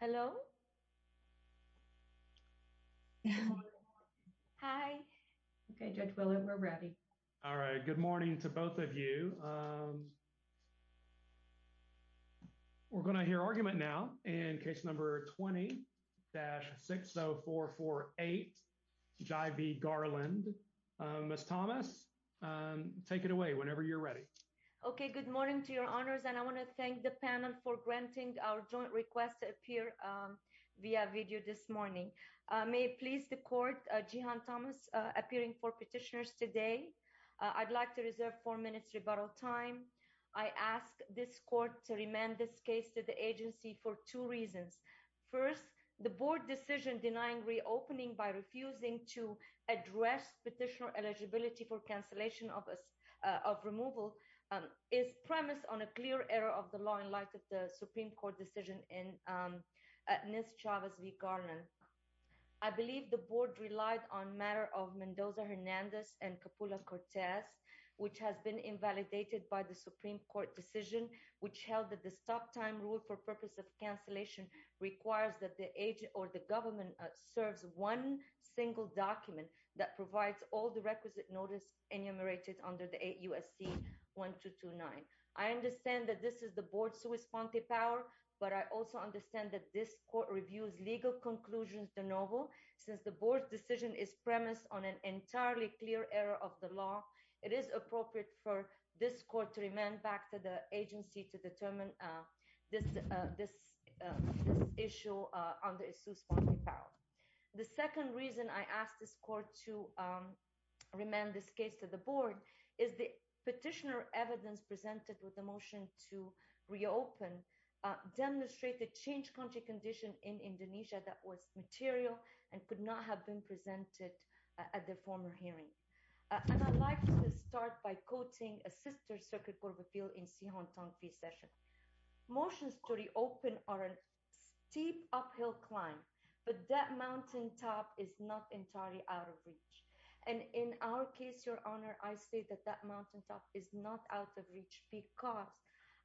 Hello. Hi. Okay, Judge Willard, we're ready. All right. Good morning to both of you. We're going to hear argument now in case number 20-60448, Jai v. Garland. Ms. Thomas, take it away whenever you're ready. Okay, good morning to your honors, and I want to thank the panel for granting our joint request to appear via video this morning. May it please the court, Jehan Thomas appearing for petitioners today. I'd like to reserve four minutes rebuttal time. I ask this court to remand this case to the agency for two reasons. First, the board decision denying reopening by refusing to address petitioner eligibility for cancellation of removal is premised on a clear error of the law in light of the Supreme Court decision in Ms. Chavez v. Garland. I believe the board relied on matter of Mendoza-Hernandez and Coppola-Cortez, which has been invalidated by the Supreme Court decision, which held that the stop time rule for purpose of cancellation requires that the agent or the government serves one single document that provides all the requisite notice enumerated under the 8 U.S.C. 1229. I understand that this is the board's correspondent power, but I also understand that this court reviews legal conclusions de novo. Since the board's decision is premised on an entirely clear error of the law, it is appropriate for this court to remand back to the agency to determine this issue on the issue's point of power. The second reason I ask this court to remand this case to the board is the petitioner evidence presented with the motion to reopen demonstrated change country condition in Indonesia that was material and could not have been presented at the former hearing. And I'd like to start by quoting a sister circuit court reveal in Sihon Tongfi's session. Motions to reopen are a steep uphill climb, but that mountaintop is not entirely out of reach. And in our case, your honor, I say that that mountaintop is not out of reach because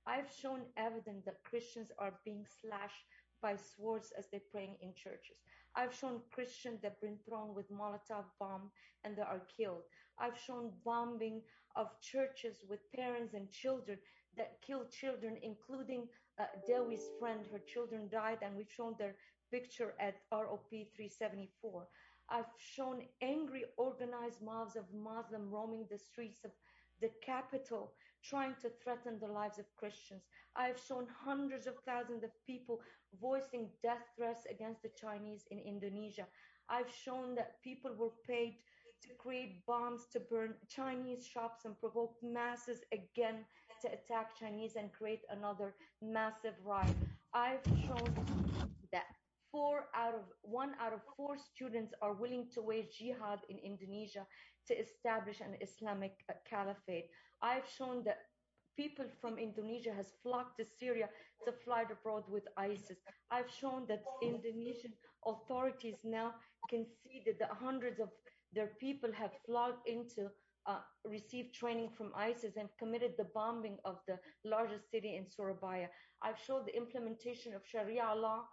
I've shown evidence that Christians are being slashed by swords as they're praying in churches. I've shown Christians that been thrown with Molotov bomb and they are killed. I've shown bombing of churches with parents and children that killed children, including Dewi's friend. Her children died and we've shown their picture at ROP 374. I've shown angry, organized mobs of Muslim roaming the streets of the capital trying to threaten the lives of Christians. I've shown hundreds of thousands of people voicing death threats against the Chinese in Indonesia. I've shown that people were paid to create bombs to burn Chinese shops and provoke masses again to attack Chinese and create another massive riot. I've shown that four out of one out of four students are willing to wage jihad in Indonesia to establish an Islamic caliphate. I've shown that people from Indonesia has flocked to Syria to fly abroad with ISIS. I've shown that Indonesian authorities now can see that the hundreds of their people have flocked into receive training from ISIS and committed the bombing of the largest city in Surabaya. I've showed the implementation of Sharia law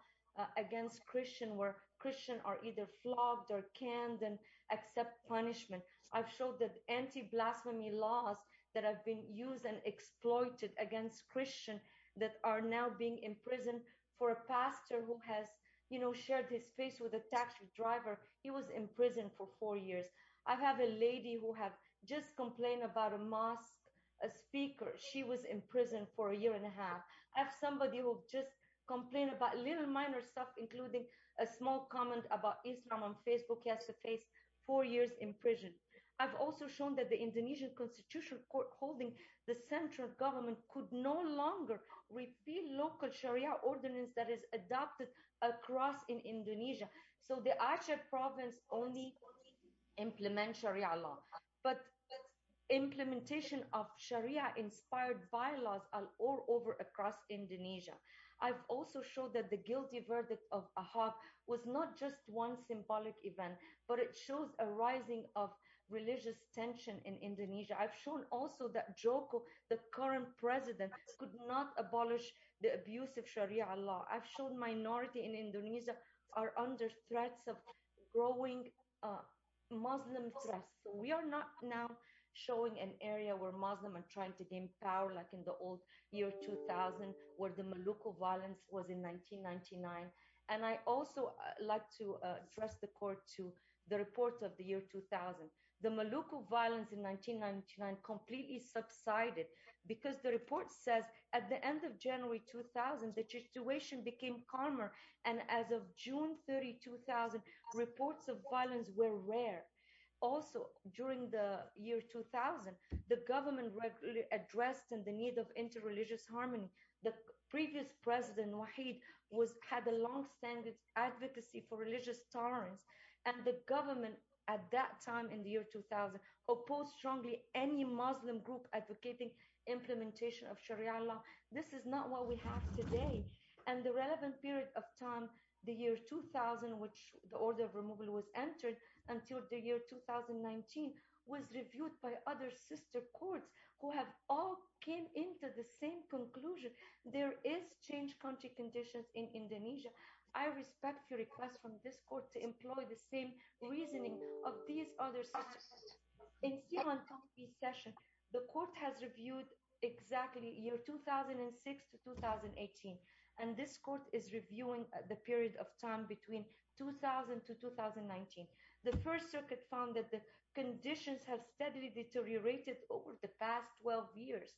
against Christian where Christian are either flogged or canned and accept punishment. I've showed that anti-blasphemy laws that have been used and exploited against Christian that are now being in prison for a pastor who has you know shared his face with a taxi driver. He was in prison for four years. I have a lady who have just complained about a mosque, a speaker, she was in prison for a year and a half. I have somebody who just complained about little minor stuff including a small comment about Islam on Facebook. He has to face four years in prison. I've also shown that the Indonesian constitutional court holding the central government could no longer repeal local Sharia ordinance that is adopted across in Indonesia. So the actual province only implement Sharia law but implementation of Sharia inspired bylaws are all over across Indonesia. I've also showed that the but it shows a rising of religious tension in Indonesia. I've shown also that Joko, the current president, could not abolish the abuse of Sharia law. I've shown minority in Indonesia are under threats of growing Muslim threats. We are not now showing an area where Muslims are trying to gain power like in the old year 2000 where the Maluku violence was in 1999. And I also like to address the court to the report of the year 2000. The Maluku violence in 1999 completely subsided because the report says at the end of January 2000 the situation became calmer and as of June 32,000 reports of violence were rare. Also during the year 2000, the government regularly addressed in the need of inter-religious harmony. The previous president was had a long-standing advocacy for religious tolerance and the government at that time in the year 2000 opposed strongly any Muslim group advocating implementation of Sharia law. This is not what we have today and the relevant period of time the year 2000 which the order of removal was entered until the year 2019 was reviewed by other sister courts who have all came into the same conclusion. There is change country conditions in Indonesia. I respect your request from this court to employ the same reasoning of these other sisters. In the session the court has reviewed exactly year 2006 to 2018 and this court is reviewing the period of time between 2000 to 2019. The first circuit found that the conditions have steadily deteriorated over the past 12 years.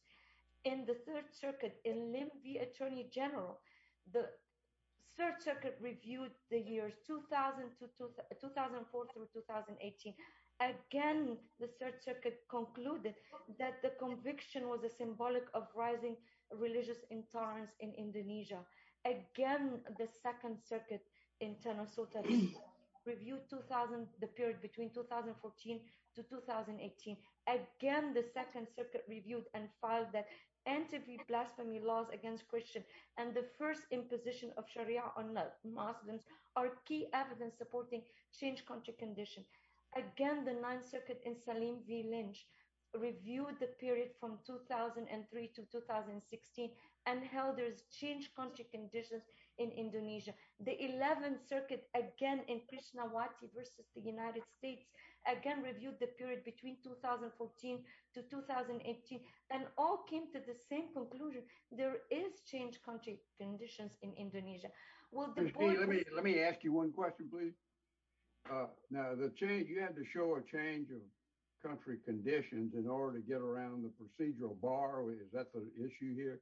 In the third circuit in Limby Attorney General, the third circuit reviewed the years 2000 to 2004 through 2018. Again the third circuit concluded that the conviction was a symbolic of rising religious intolerance in Indonesia. Again the second circuit in Tennosota reviewed 2000 the anti-blasphemy laws against Christians and the first imposition of Sharia on Muslims are key evidence supporting change country conditions. Again the ninth circuit in Salim v Lynch reviewed the period from 2003 to 2016 and held there's change country conditions in Indonesia. The 11th circuit again in Krishnawati versus the United States again reviewed the period between 2014 to 2018 and all came to the same conclusion. There is change country conditions in Indonesia. Well let me let me ask you one question please. Uh now the change you had to show a change of country conditions in order to get around the procedural bar. Is that the issue here?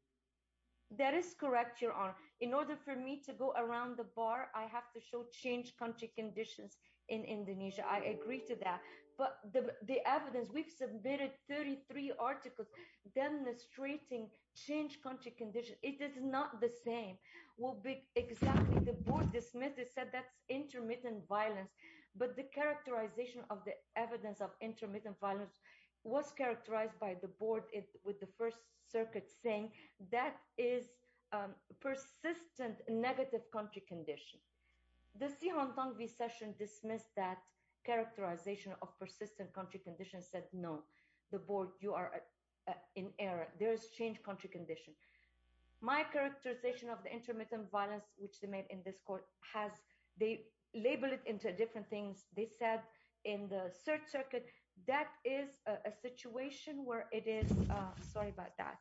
That is correct your honor. In order for me to go around the bar I have to show change country conditions in Indonesia. I agree to that but the the evidence we've submitted 33 articles demonstrating change country condition. It is not the same will be exactly the board dismissed it said that's intermittent violence but the characterization of the evidence of intermittent violence was characterized by the board with the first circuit saying that is a persistent negative country condition. The Sihon Tongvi session dismissed that characterization of persistent country condition said no the board you are in error. There is change country condition. My characterization of the intermittent violence which they made in this court has they label it into different things. They said in the third circuit that is a situation where it is uh sorry about that.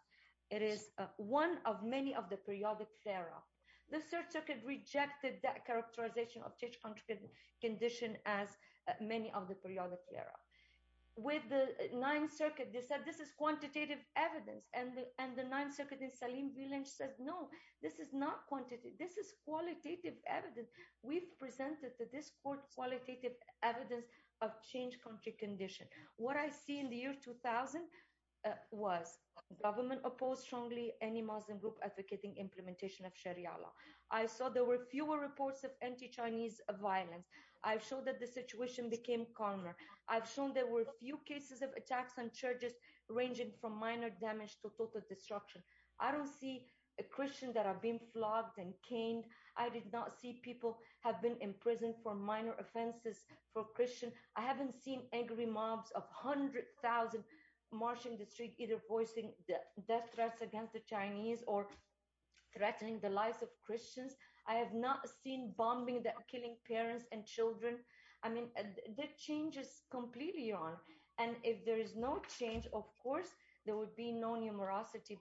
It is one of many of the periodic error. The third circuit rejected that characterization of change country condition as many of the periodic error. With the ninth circuit they said this is quantitative evidence and the and the ninth circuit in Salim Vilain says no this is not quantity. This is qualitative evidence. We've presented to this court qualitative evidence of change country condition. What I see in the year 2000 was government opposed strongly any Muslim group advocating implementation of Sharia law. I saw there were fewer reports of anti-Chinese violence. I've shown that the situation became calmer. I've shown there were few cases of attacks on churches ranging from minor damage to total destruction. I don't see a Christian that are being flogged and caned. I did not see people have been imprisoned for minor offenses for Christian. I haven't seen angry mobs of 100,000 marching the street either voicing the death threats against the Chinese or threatening the lives of Christians. I have not seen bombing that killing parents and children. I mean the change is completely wrong and if there is no change of course there would be no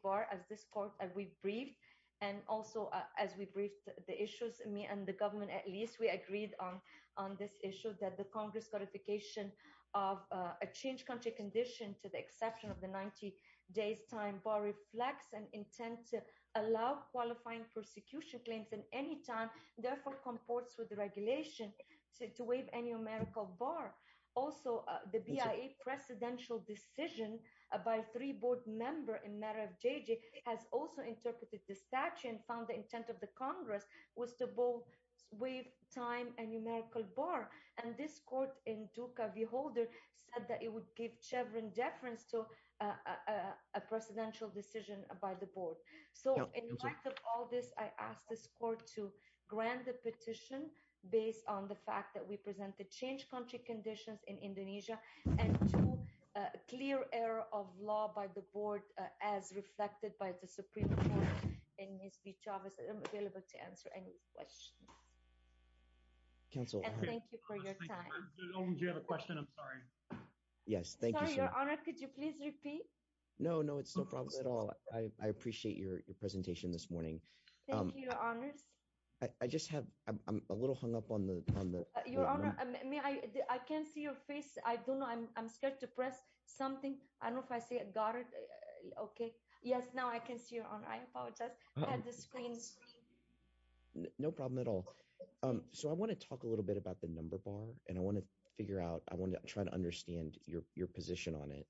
bar as this court and we briefed and also as we briefed the issues me and the government at least we agreed on on this issue that the congress clarification of a change country condition to the exception of the 90 days time bar reflects an intent to allow qualifying persecution claims in any time therefore comports with the regulation to waive any numerical bar. Also the BIA presidential decision by three board member in matter of JJ has also interpreted the statute and found the intent of the congress was to both waive time and numerical bar and this court in Duka v. Holder said that it would give chevron deference to a presidential decision by the board. So in light of all this I asked this court to grant the petition based on the fact that we presented change country conditions in Indonesia and two clear error of law by the board as reflected by the supreme court and Ms. V. Chavez. I'm available to answer any questions. Counsel thank you for your time. Do you have a question? I'm sorry. Yes thank you sir. Your honor could you please repeat? No no it's no problem at all. I appreciate your presentation this morning. Thank you your honors. I just have I'm a little hung up on the on the. Your honor may I I can't see your face. I don't know I'm scared to press something. I don't know if I say it got it okay. Yes now I can see your honor. I apologize I had the screen. No problem at all. So I want to talk a little bit about the number bar and I want to figure out I want to try to understand your your position on it.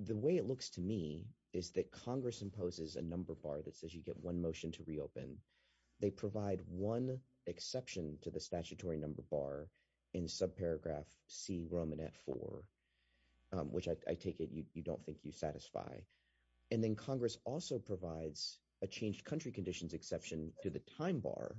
The way it looks to me is that congress imposes a number bar that says you get one motion to reopen. They provide one exception to the statutory number bar in subparagraph c roman at four which I take it you don't think you satisfy and then congress also provides a changed country conditions exception to the time bar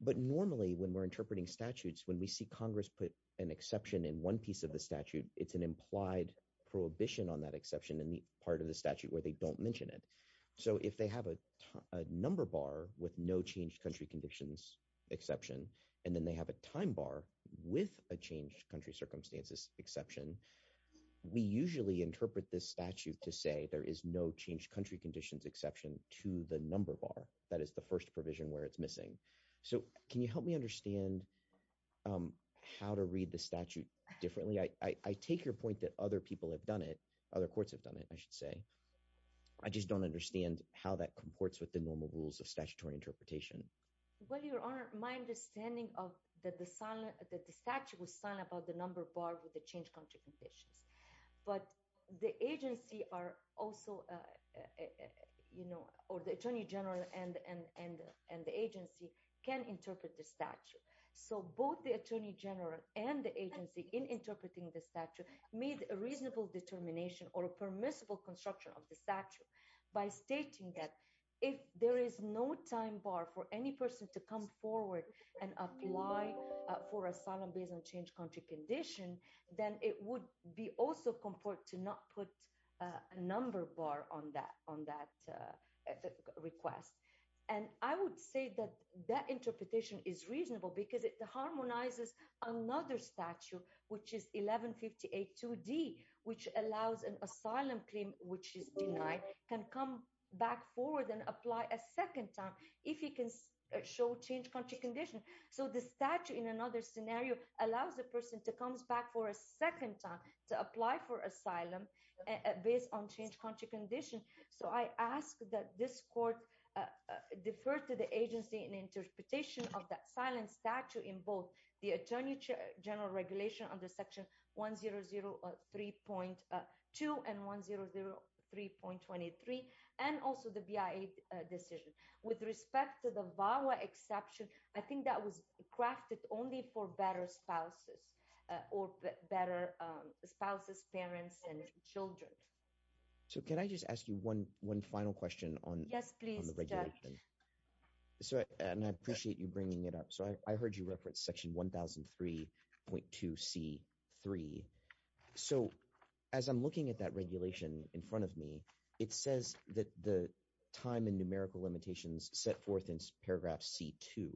but normally when we're interpreting statutes when we see congress put an exception in one piece of the statute it's an implied prohibition on that exception in the part of the statute where they don't mention it. So if they have a number bar with no changed country conditions exception and then they have a time bar with a changed country circumstances exception we usually interpret this statute to say there is no changed country conditions exception to the number bar that is the first provision where it's missing. So can you help me understand how to read the statute differently? I take your point that other people have done it other courts have done it I should say. I just don't understand how that comports with the normal rules of statutory interpretation. Well your honor my understanding of that the sign that the statute was signed about the number bar with the change country conditions but the agency are also uh you know or the attorney general and and and the agency can interpret the statute so both the attorney general and the agency in interpreting the statute made a reasonable determination or a permissible construction of the statute by stating that if there is no time bar for any person to come forward and apply for asylum based on change country condition then it would be also comport to not put a number bar on that on that uh request and I would say that that interpretation is reasonable because it harmonizes another statute which is 1158 2d which allows an asylum claim which is denied can come back forward and apply a second time if you can show change country condition so the statute in another scenario allows a person to come back for a second time to apply for asylum based on change country condition so I ask that this court uh defer to the agency in interpretation of that silent statute in both the attorney general regulation under section 1003.2 and 1003.23 and also the bia decision with respect to the VAWA exception I think that was crafted only for better spouses or better spouses parents and children so can I just ask you one one final question on yes please so and I appreciate you bringing it up so I heard you reference section 1003.2 c3 so as I'm looking at that regulation in front of me it says that the time and numerical limitations set forth in paragraph c2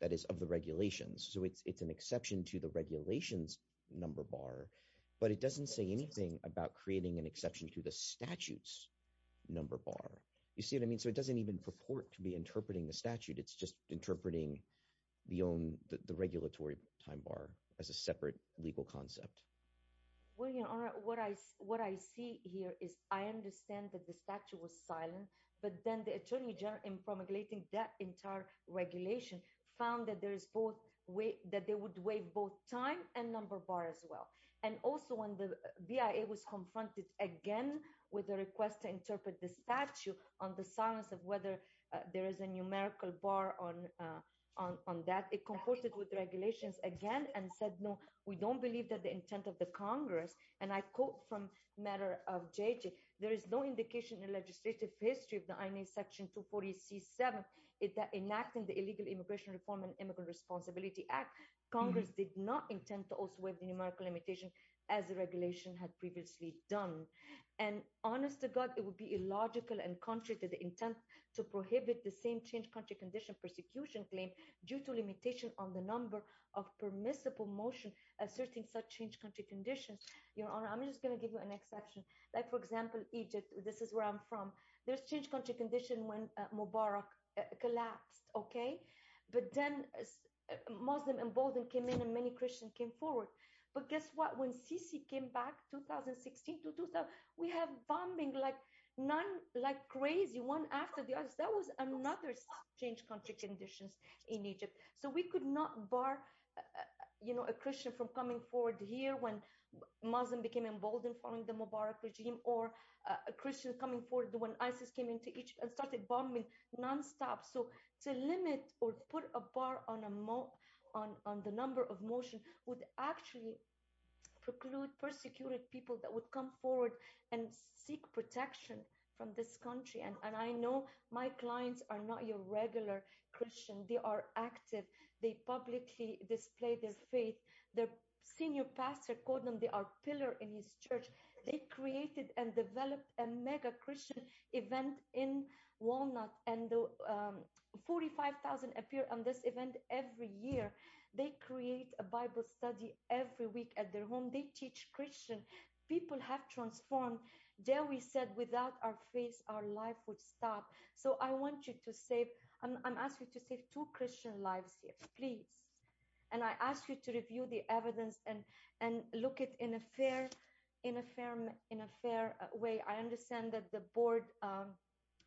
that is of the regulations so it's it's an exception to the regulations number bar but it doesn't say anything about creating an exception to the statutes number bar you see what I mean so it doesn't even purport to be interpreting the statute it's just interpreting the own the regulatory time bar as a separate legal concept well your honor what I what I see here is I understand that the statute was silent but then the attorney general in promulgating that entire regulation found that there is both way that they would waive both time and number bar as well and also when the BIA was confronted again with the request to interpret the statute on the silence of whether there is a numerical bar on on that it comported with regulations again and said no we don't believe that the intent of the congress and I quote from matter of JJ there is no indication in legislative history of the INA section 240 c7 enacting the illegal immigration reform and immigrant responsibility act congress did not intend to also have the numerical limitation as the regulation had previously done and honest to god it would be illogical and contrary to the intent to prohibit the same change country condition persecution claim due to limitation on the number of permissible motion asserting such change country conditions your honor I'm just going to give you an exception like for example Egypt this is where there's change country condition when Mubarak collapsed okay but then Muslim emboldened came in and many Christians came forward but guess what when Sisi came back 2016 to 2000 we have bombing like none like crazy one after the other that was another change country conditions in Egypt so we could not bar you know a Christian from coming forward here when Muslim became emboldened following the Mubarak regime or a Christian coming forward when ISIS came into Egypt and started bombing non-stop so to limit or put a bar on a more on on the number of motion would actually preclude persecuted people that would come forward and seek protection from this country and I know my clients are not your regular Christian they are active they publicly display their faith their senior pastor called them they are pillar in his church they created and developed a mega Christian event in walnut and 45 000 appear on this event every year they create a bible study every week at their home they teach Christian people have transformed there we said without our face our life would stop so I want you to save I'm asking you to save two Christian lives here please and I ask you to review the evidence and and look at in a fair in a firm in a fair way I understand that the board um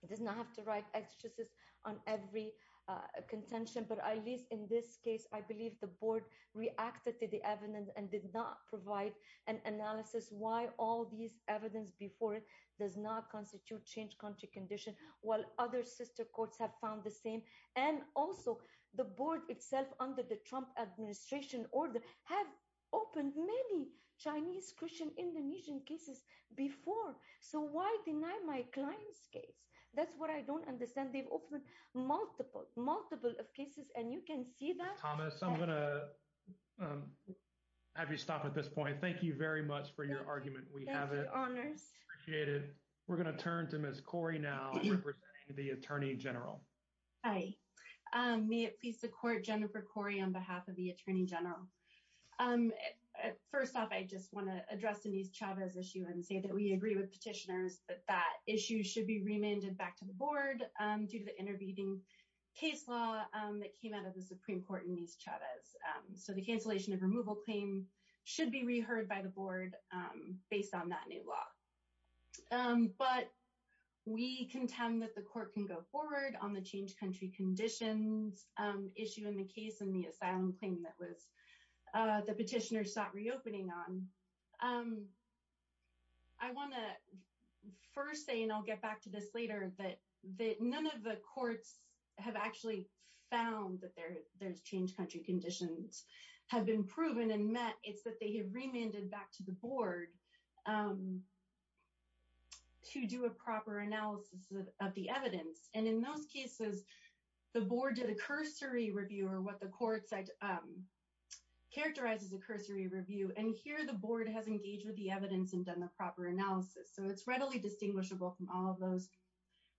does not have to write exegesis on every uh contention but at least in this case I believe the board reacted to the evidence and did not provide an analysis why all these evidence before it does not constitute change country condition while other sister courts have found the same and also the board itself under the Trump administration order have opened many Chinese Christian Indonesian cases before so why deny my client's case that's what I don't understand they've opened multiple multiple of cases and you can see that Thomas I'm gonna um have you stop at this point thank you very much for your argument we have it honors we're going to turn to Ms. Corey now representing the attorney general hi um may it please the court Jennifer Corey on behalf of the attorney general um first off I just want to address Denise Chavez issue and say that we agree with petitioners that that issue should be remanded back to the board um due to the intervening case law um that came out of the supreme court in these Chavez um so the cancellation of removal claim should be heard by the board um based on that new law um but we contend that the court can go forward on the change country conditions um issue in the case in the asylum claim that was uh the petitioner sought reopening on um I want to first say and I'll get back to this later that that none of the courts have actually found that there there's change country conditions have been proven and it's that they have remanded back to the board um to do a proper analysis of the evidence and in those cases the board did a cursory review or what the court said um characterizes a cursory review and here the board has engaged with the evidence and done the proper analysis so it's readily distinguishable from all of those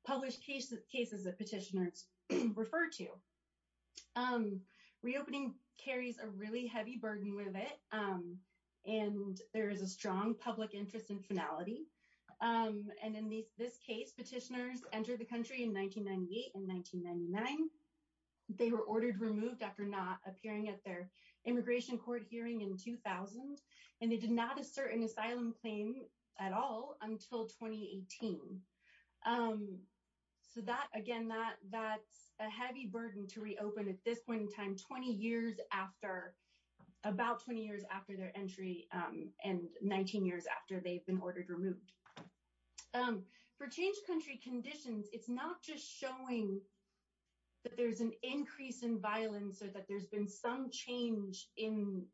published cases cases that petitioners refer to um reopening carries a really heavy burden with it um and there is a strong public interest in finality um and in this case petitioners entered the country in 1998 and 1999 they were ordered removed after not appearing at their immigration court hearing in 2000 and they did not assert an asylum claim at all until 2018 um so that again that that's a heavy burden to reopen at this time 20 years after about 20 years after their entry um and 19 years after they've been ordered removed um for change country conditions it's not just showing that there's an increase in violence or that there's been some change in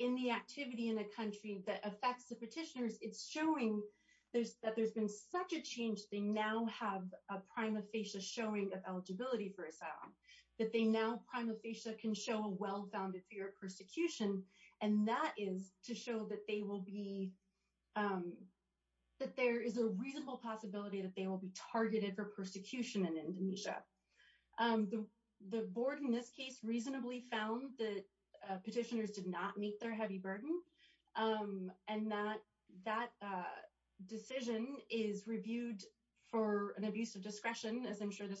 in the activity in a country that affects the petitioners it's showing there's that there's been such a change they now have a prima facie showing of eligibility for asylum that they now prima facie can show a well-founded fear of persecution and that is to show that they will be um that there is a reasonable possibility that they will be targeted for persecution in indonesia um the the board in this case reasonably found that petitioners did not meet their heavy burden um and that that uh decision is reviewed for an abuse of this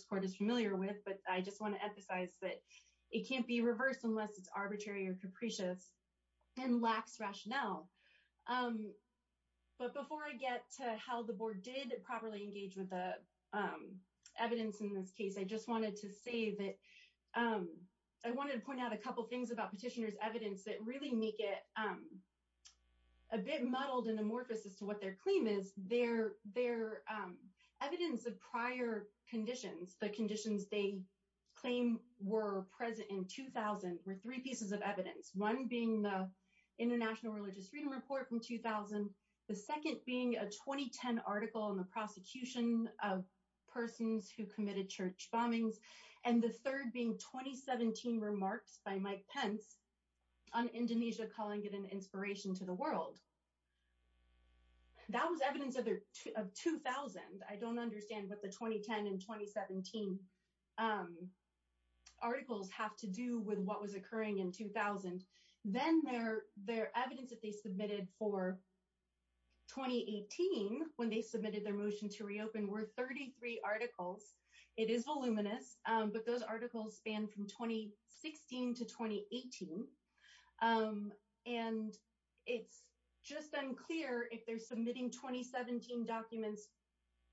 court is familiar with but i just want to emphasize that it can't be reversed unless it's arbitrary or capricious and lacks rationale um but before i get to how the board did properly engage with the um evidence in this case i just wanted to say that um i wanted to point out a couple things about petitioners evidence that really make it um a bit muddled and amorphous as to their claim is their their um evidence of prior conditions the conditions they claim were present in 2000 were three pieces of evidence one being the international religious freedom report from 2000 the second being a 2010 article in the prosecution of persons who committed church bombings and the third being 2017 remarks by mike pence on indonesia calling it an inspiration to the world that was evidence of 2000 i don't understand what the 2010 and 2017 um articles have to do with what was occurring in 2000 then their their evidence that they submitted for 2018 when they submitted their motion to reopen were 33 articles it is voluminous um but those it's just unclear if they're submitting 2017 documents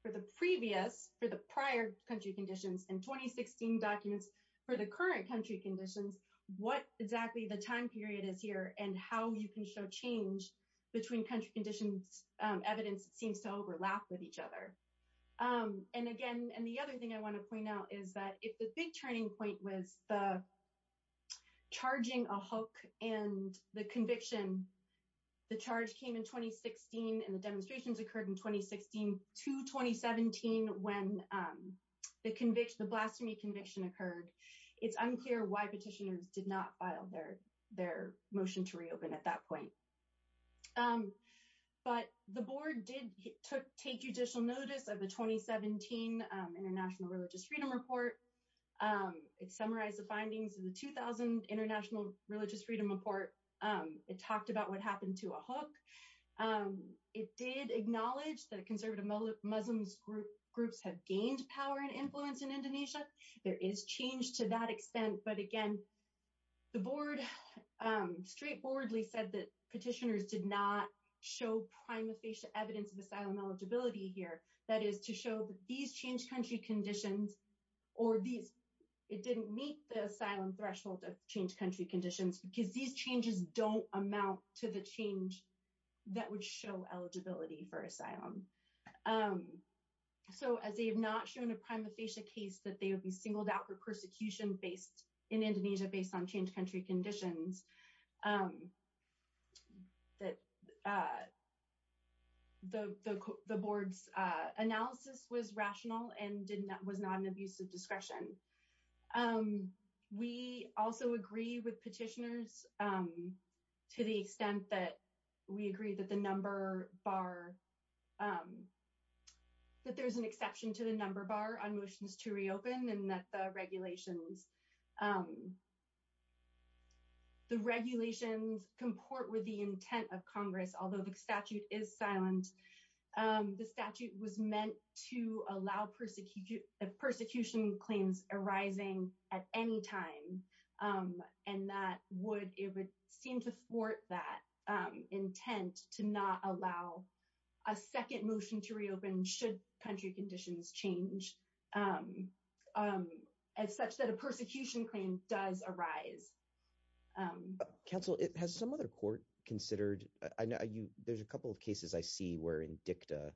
for the previous for the prior country conditions and 2016 documents for the current country conditions what exactly the time period is here and how you can show change between country conditions um evidence seems to overlap with each other um and again and the other thing i want to point out is that if the big turning point was the charging a hook and the conviction the charge came in 2016 and the demonstrations occurred in 2016 to 2017 when um the conviction the blasphemy conviction occurred it's unclear why petitioners did not file their their motion to reopen at that point um but the board did take judicial notice of the 2017 international religious freedom report um it summarized the findings of the 2000 international religious freedom report um it talked about what happened to a hook um it did acknowledge that conservative muslims groups have gained power and influence in indonesia there is change to that extent but again the board um straightforwardly said that petitioners did not show prima facie evidence of asylum eligibility here that is to show that these change country conditions or these it didn't meet the asylum threshold of change country conditions because these changes don't amount to the change that would show eligibility for asylum um so as they have not shown a prima facie case that they would be singled out for that uh the the board's uh analysis was rational and did not was not an abusive discretion um we also agree with petitioners um to the extent that we agree that the number bar um that there's an exception to the number bar on motions to reopen and that the regulations um the regulations comport with the intent of congress although the statute is silent um the statute was meant to allow persecution claims arising at any time and that would it would seem to thwart that um intent to not allow a second motion to reopen should country conditions change um um as such that a persecution claim does arise counsel it has some other court considered i know you there's a couple of cases i see where in dicta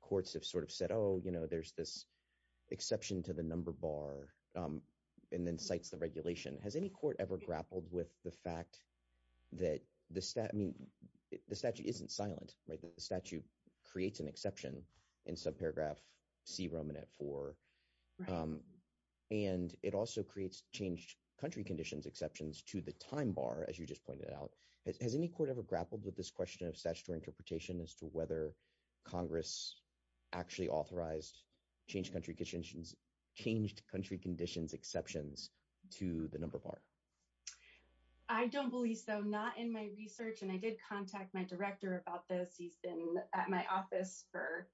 courts have sort of said oh you know there's this exception to the number bar um and then cites the regulation has any court ever grappled with the fact that the stat i mean the statute isn't silent right the statute creates an exception in subparagraph c roman at four and it also creates changed country conditions exceptions to the time bar as you just pointed out has any court ever grappled with this question of statutory interpretation as to whether congress actually authorized changed country conditions changed country conditions exceptions to the he's been at my office for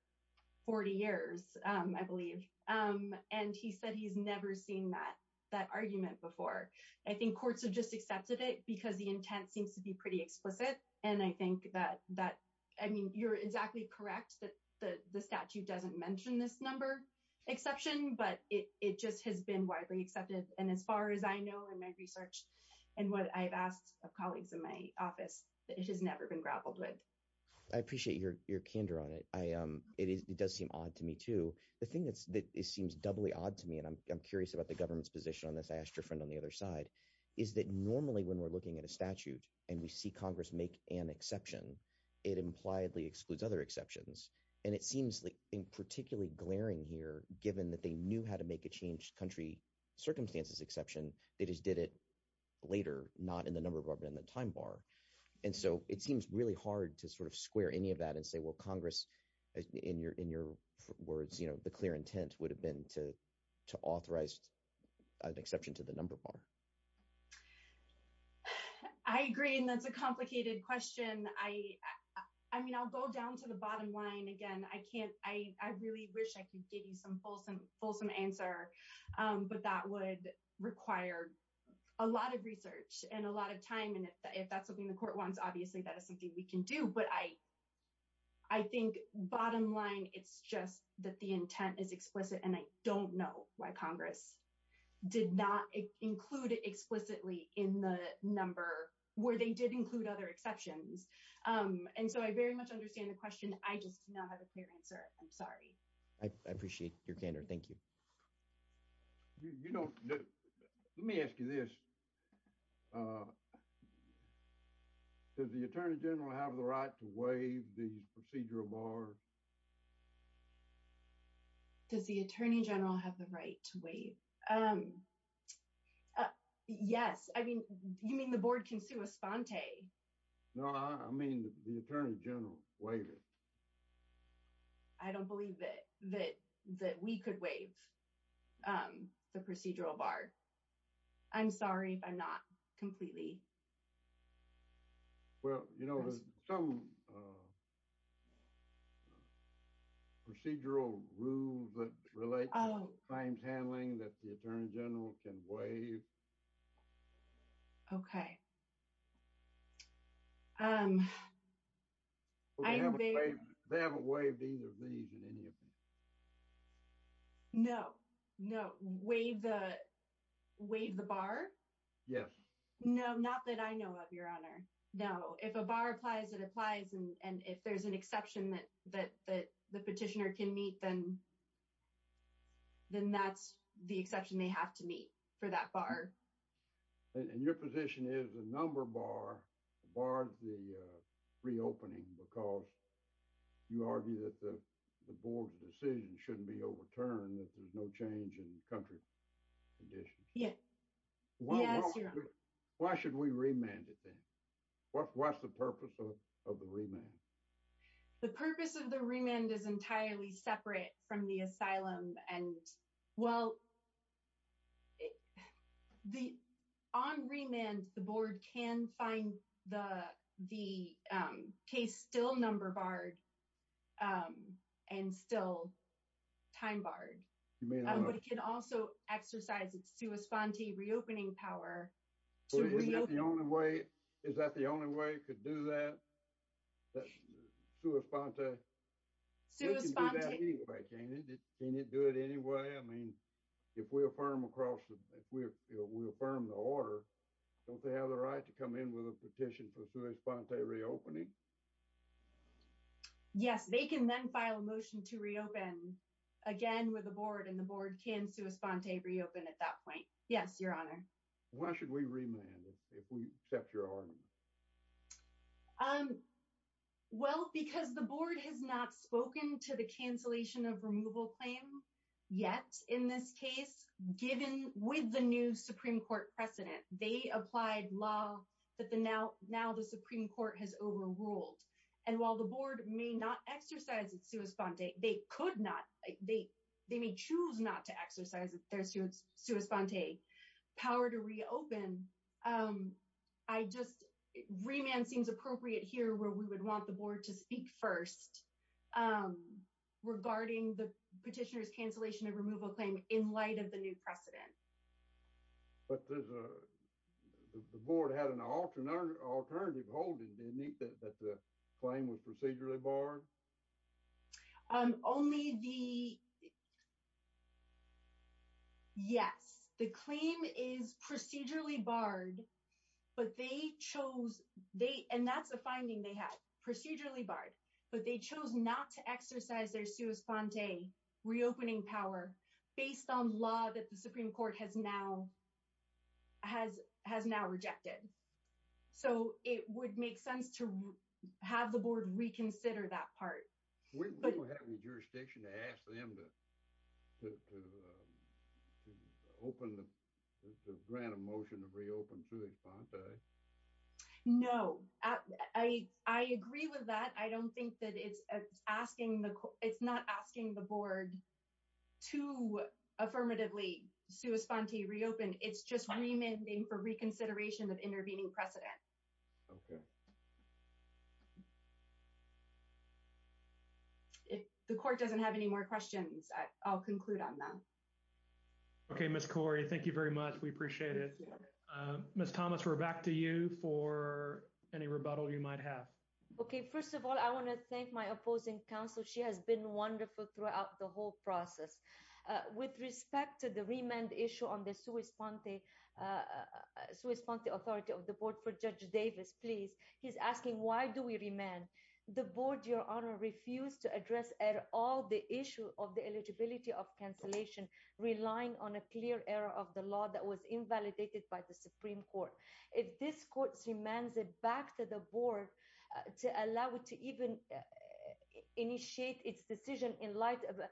40 years um i believe um and he said he's never seen that that argument before i think courts have just accepted it because the intent seems to be pretty explicit and i think that that i mean you're exactly correct that the the statute doesn't mention this number exception but it it just has been widely accepted and as far as i know in my i appreciate your your candor on it i um it does seem odd to me too the thing that's that it seems doubly odd to me and i'm curious about the government's position on this i asked your friend on the other side is that normally when we're looking at a statute and we see congress make an exception it impliedly excludes other exceptions and it seems like in particularly glaring here given that they knew how to make a changed country circumstances exception that later not in the number bar but in the time bar and so it seems really hard to sort of square any of that and say well congress in your in your words you know the clear intent would have been to to authorize an exception to the number bar i agree and that's a complicated question i i mean i'll go down to the bottom line again i can't i i really wish i could give you some fulsome fulsome answer um but that would require a lot of research and a lot of time and if that's something the court wants obviously that is something we can do but i i think bottom line it's just that the intent is explicit and i don't know why congress did not include it explicitly in the number where they did include other exceptions um and so i very much understand the question i just do not have a clear answer i'm sorry i appreciate your candor thank you you know let me ask you this uh does the attorney general have the right to waive these procedural bars does the attorney general have the right to waive um yes i mean you mean the board can respond no i mean the attorney general waived it i don't believe that that that we could waive um the procedural bar i'm sorry if i'm not completely well you know there's some procedural rules that relate to claims handling that the attorney general can waive um okay um they haven't waived either of these in any of them no no waive the waive the bar yes no not that i know of your honor no if a bar applies it applies and and if there's an exception that that that the petitioner can meet then then that's the exception they have to meet for that bar and your position is a number bar bars the uh reopening because you argue that the the board's decision shouldn't be overturned that there's no change in country conditions yeah why should we remand it then what's the purpose of the asylum and well the on remand the board can find the the um case still number barred um and still time barred but it can also exercise its sua sponte reopening power is that the only way is that the only way it could do that that sua sponte can it do it anyway i mean if we affirm across the if we're we affirm the order don't they have the right to come in with a petition for sua sponte reopening yes they can then file a motion to reopen again with the board and the board can sua sponte reopen at that point yes your honor why should we remand if we accept your argument um well because the board has not spoken to the cancellation of removal claim yet in this case given with the new supreme court precedent they applied law that the now now the supreme court has overruled and while the board may not exercise its sua sponte they could not they they may choose not to exercise their sua sponte power to reopen um i just remand seems appropriate here where we would want the board to speak first um regarding the petitioner's cancellation of removal claim in light of the new precedent but there's a the board had an alternative holding didn't it that the claim was procedurally barred um only the yes the claim is procedurally barred but they chose they and that's the finding they had procedurally barred but they chose not to exercise their sua sponte reopening power based on law that the supreme court has now has has now rejected so it would make sense to have the board reconsider that part we don't have any jurisdiction to ask them to to um to open the grant of motion to reopen sua sponte no i i agree with that i don't think that it's asking the it's not asking the board to affirmatively sua sponte reopen it's just for reconsideration of intervening precedent okay if the court doesn't have any more questions i'll conclude on them okay miss cori thank you very much we appreciate it uh miss thomas we're back to you for any rebuttal you might have okay first of all i want to thank my opposing counsel she has been wonderful throughout the whole process with respect to the remand issue on the sua sponte uh sua sponte authority of the board for judge davis please he's asking why do we remain the board your honor refused to address at all the issue of the eligibility of cancellation relying on a clear error of the law that was invalidated by the supreme court if this court demands it back to the board to allow it to even initiate its decision in light of a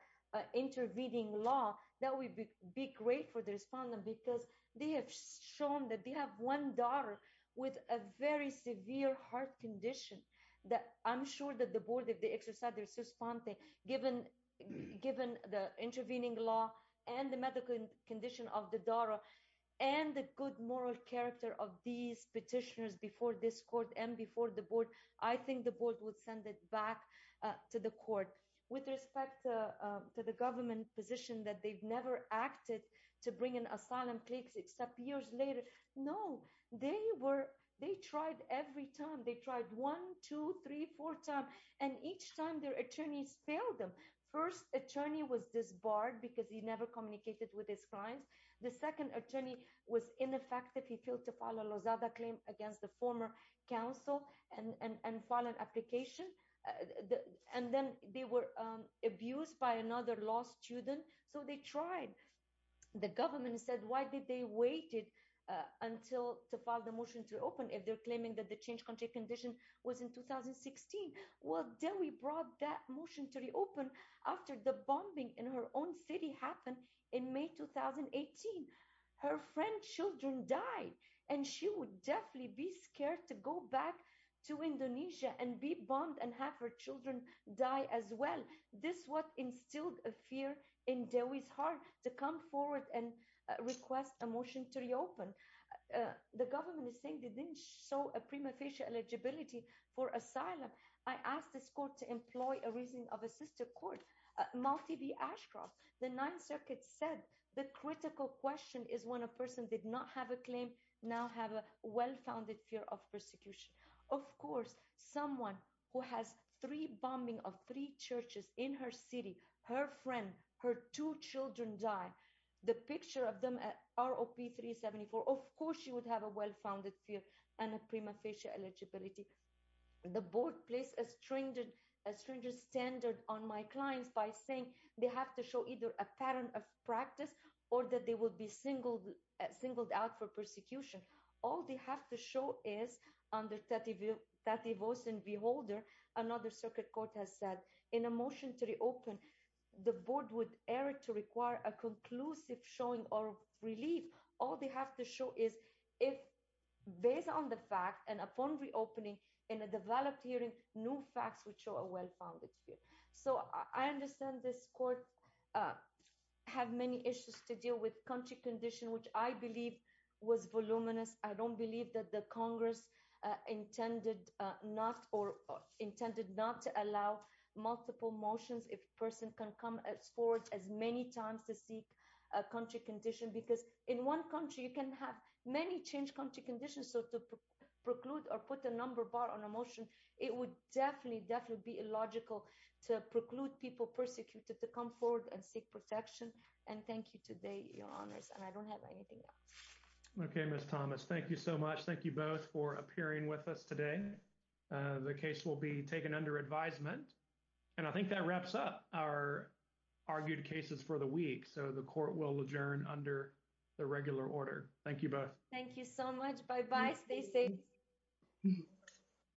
intervening law that would be great for the respondent because they have shown that they have one daughter with a very severe heart condition that i'm sure that the board of the exercise is responding given given the intervening law and the medical condition of the daughter and the good moral character of these petitioners before this court and before the board i think the board would send it back to the court with respect to the government position that they've never acted to bring an asylum case except years later no they were they tried every time they tried one two three four time and each time their attorneys failed them first attorney was disbarred because he never communicated with his clients the second attorney was ineffective he failed to follow losada claim against the former council and and file an application and then they were um abused by another law student so they tried the government said why did they waited uh until to file the motion to open if they're claiming that the change country was in 2016 well then we brought that motion to reopen after the bombing in her own city happened in may 2018 her friend children died and she would definitely be scared to go back to indonesia and be bombed and have her children die as well this what instilled a fear in dewey's heart to come forward and request a motion to reopen the government is saying they didn't show a prima eligibility for asylum i asked this court to employ a reason of a sister court multi-b ashcroft the ninth circuit said the critical question is when a person did not have a claim now have a well-founded fear of persecution of course someone who has three bombing of three churches in her city her friend her two children die the picture of them at rop 374 of course she would have a well-founded fear and a prima facie eligibility the board placed a stringent a stringent standard on my clients by saying they have to show either a pattern of practice or that they will be singled singled out for persecution all they have to show is under that view that devotion beholder another circuit court has said in a motion to reopen the board would err to require a conclusive showing or relief all they have to show is if based on the fact and upon reopening in a developed hearing new facts would show a well-founded fear so i understand this court have many issues to deal with country condition which i believe was voluminous i don't believe that the congress uh intended uh not or intended not to allow multiple motions if a person can come as forward as many times to seek a country condition because in one country you can have many change country conditions so to preclude or put a number bar on a motion it would definitely definitely be illogical to preclude people persecuted to come forward and seek protection and thank you today your honors and i don't have anything else okay miss thomas thank you so much thank you both for appearing with us today the case will be taken under advisement and i think wraps up our argued cases for the week so the court will adjourn under the regular order thank you both thank you so much bye-bye stay safe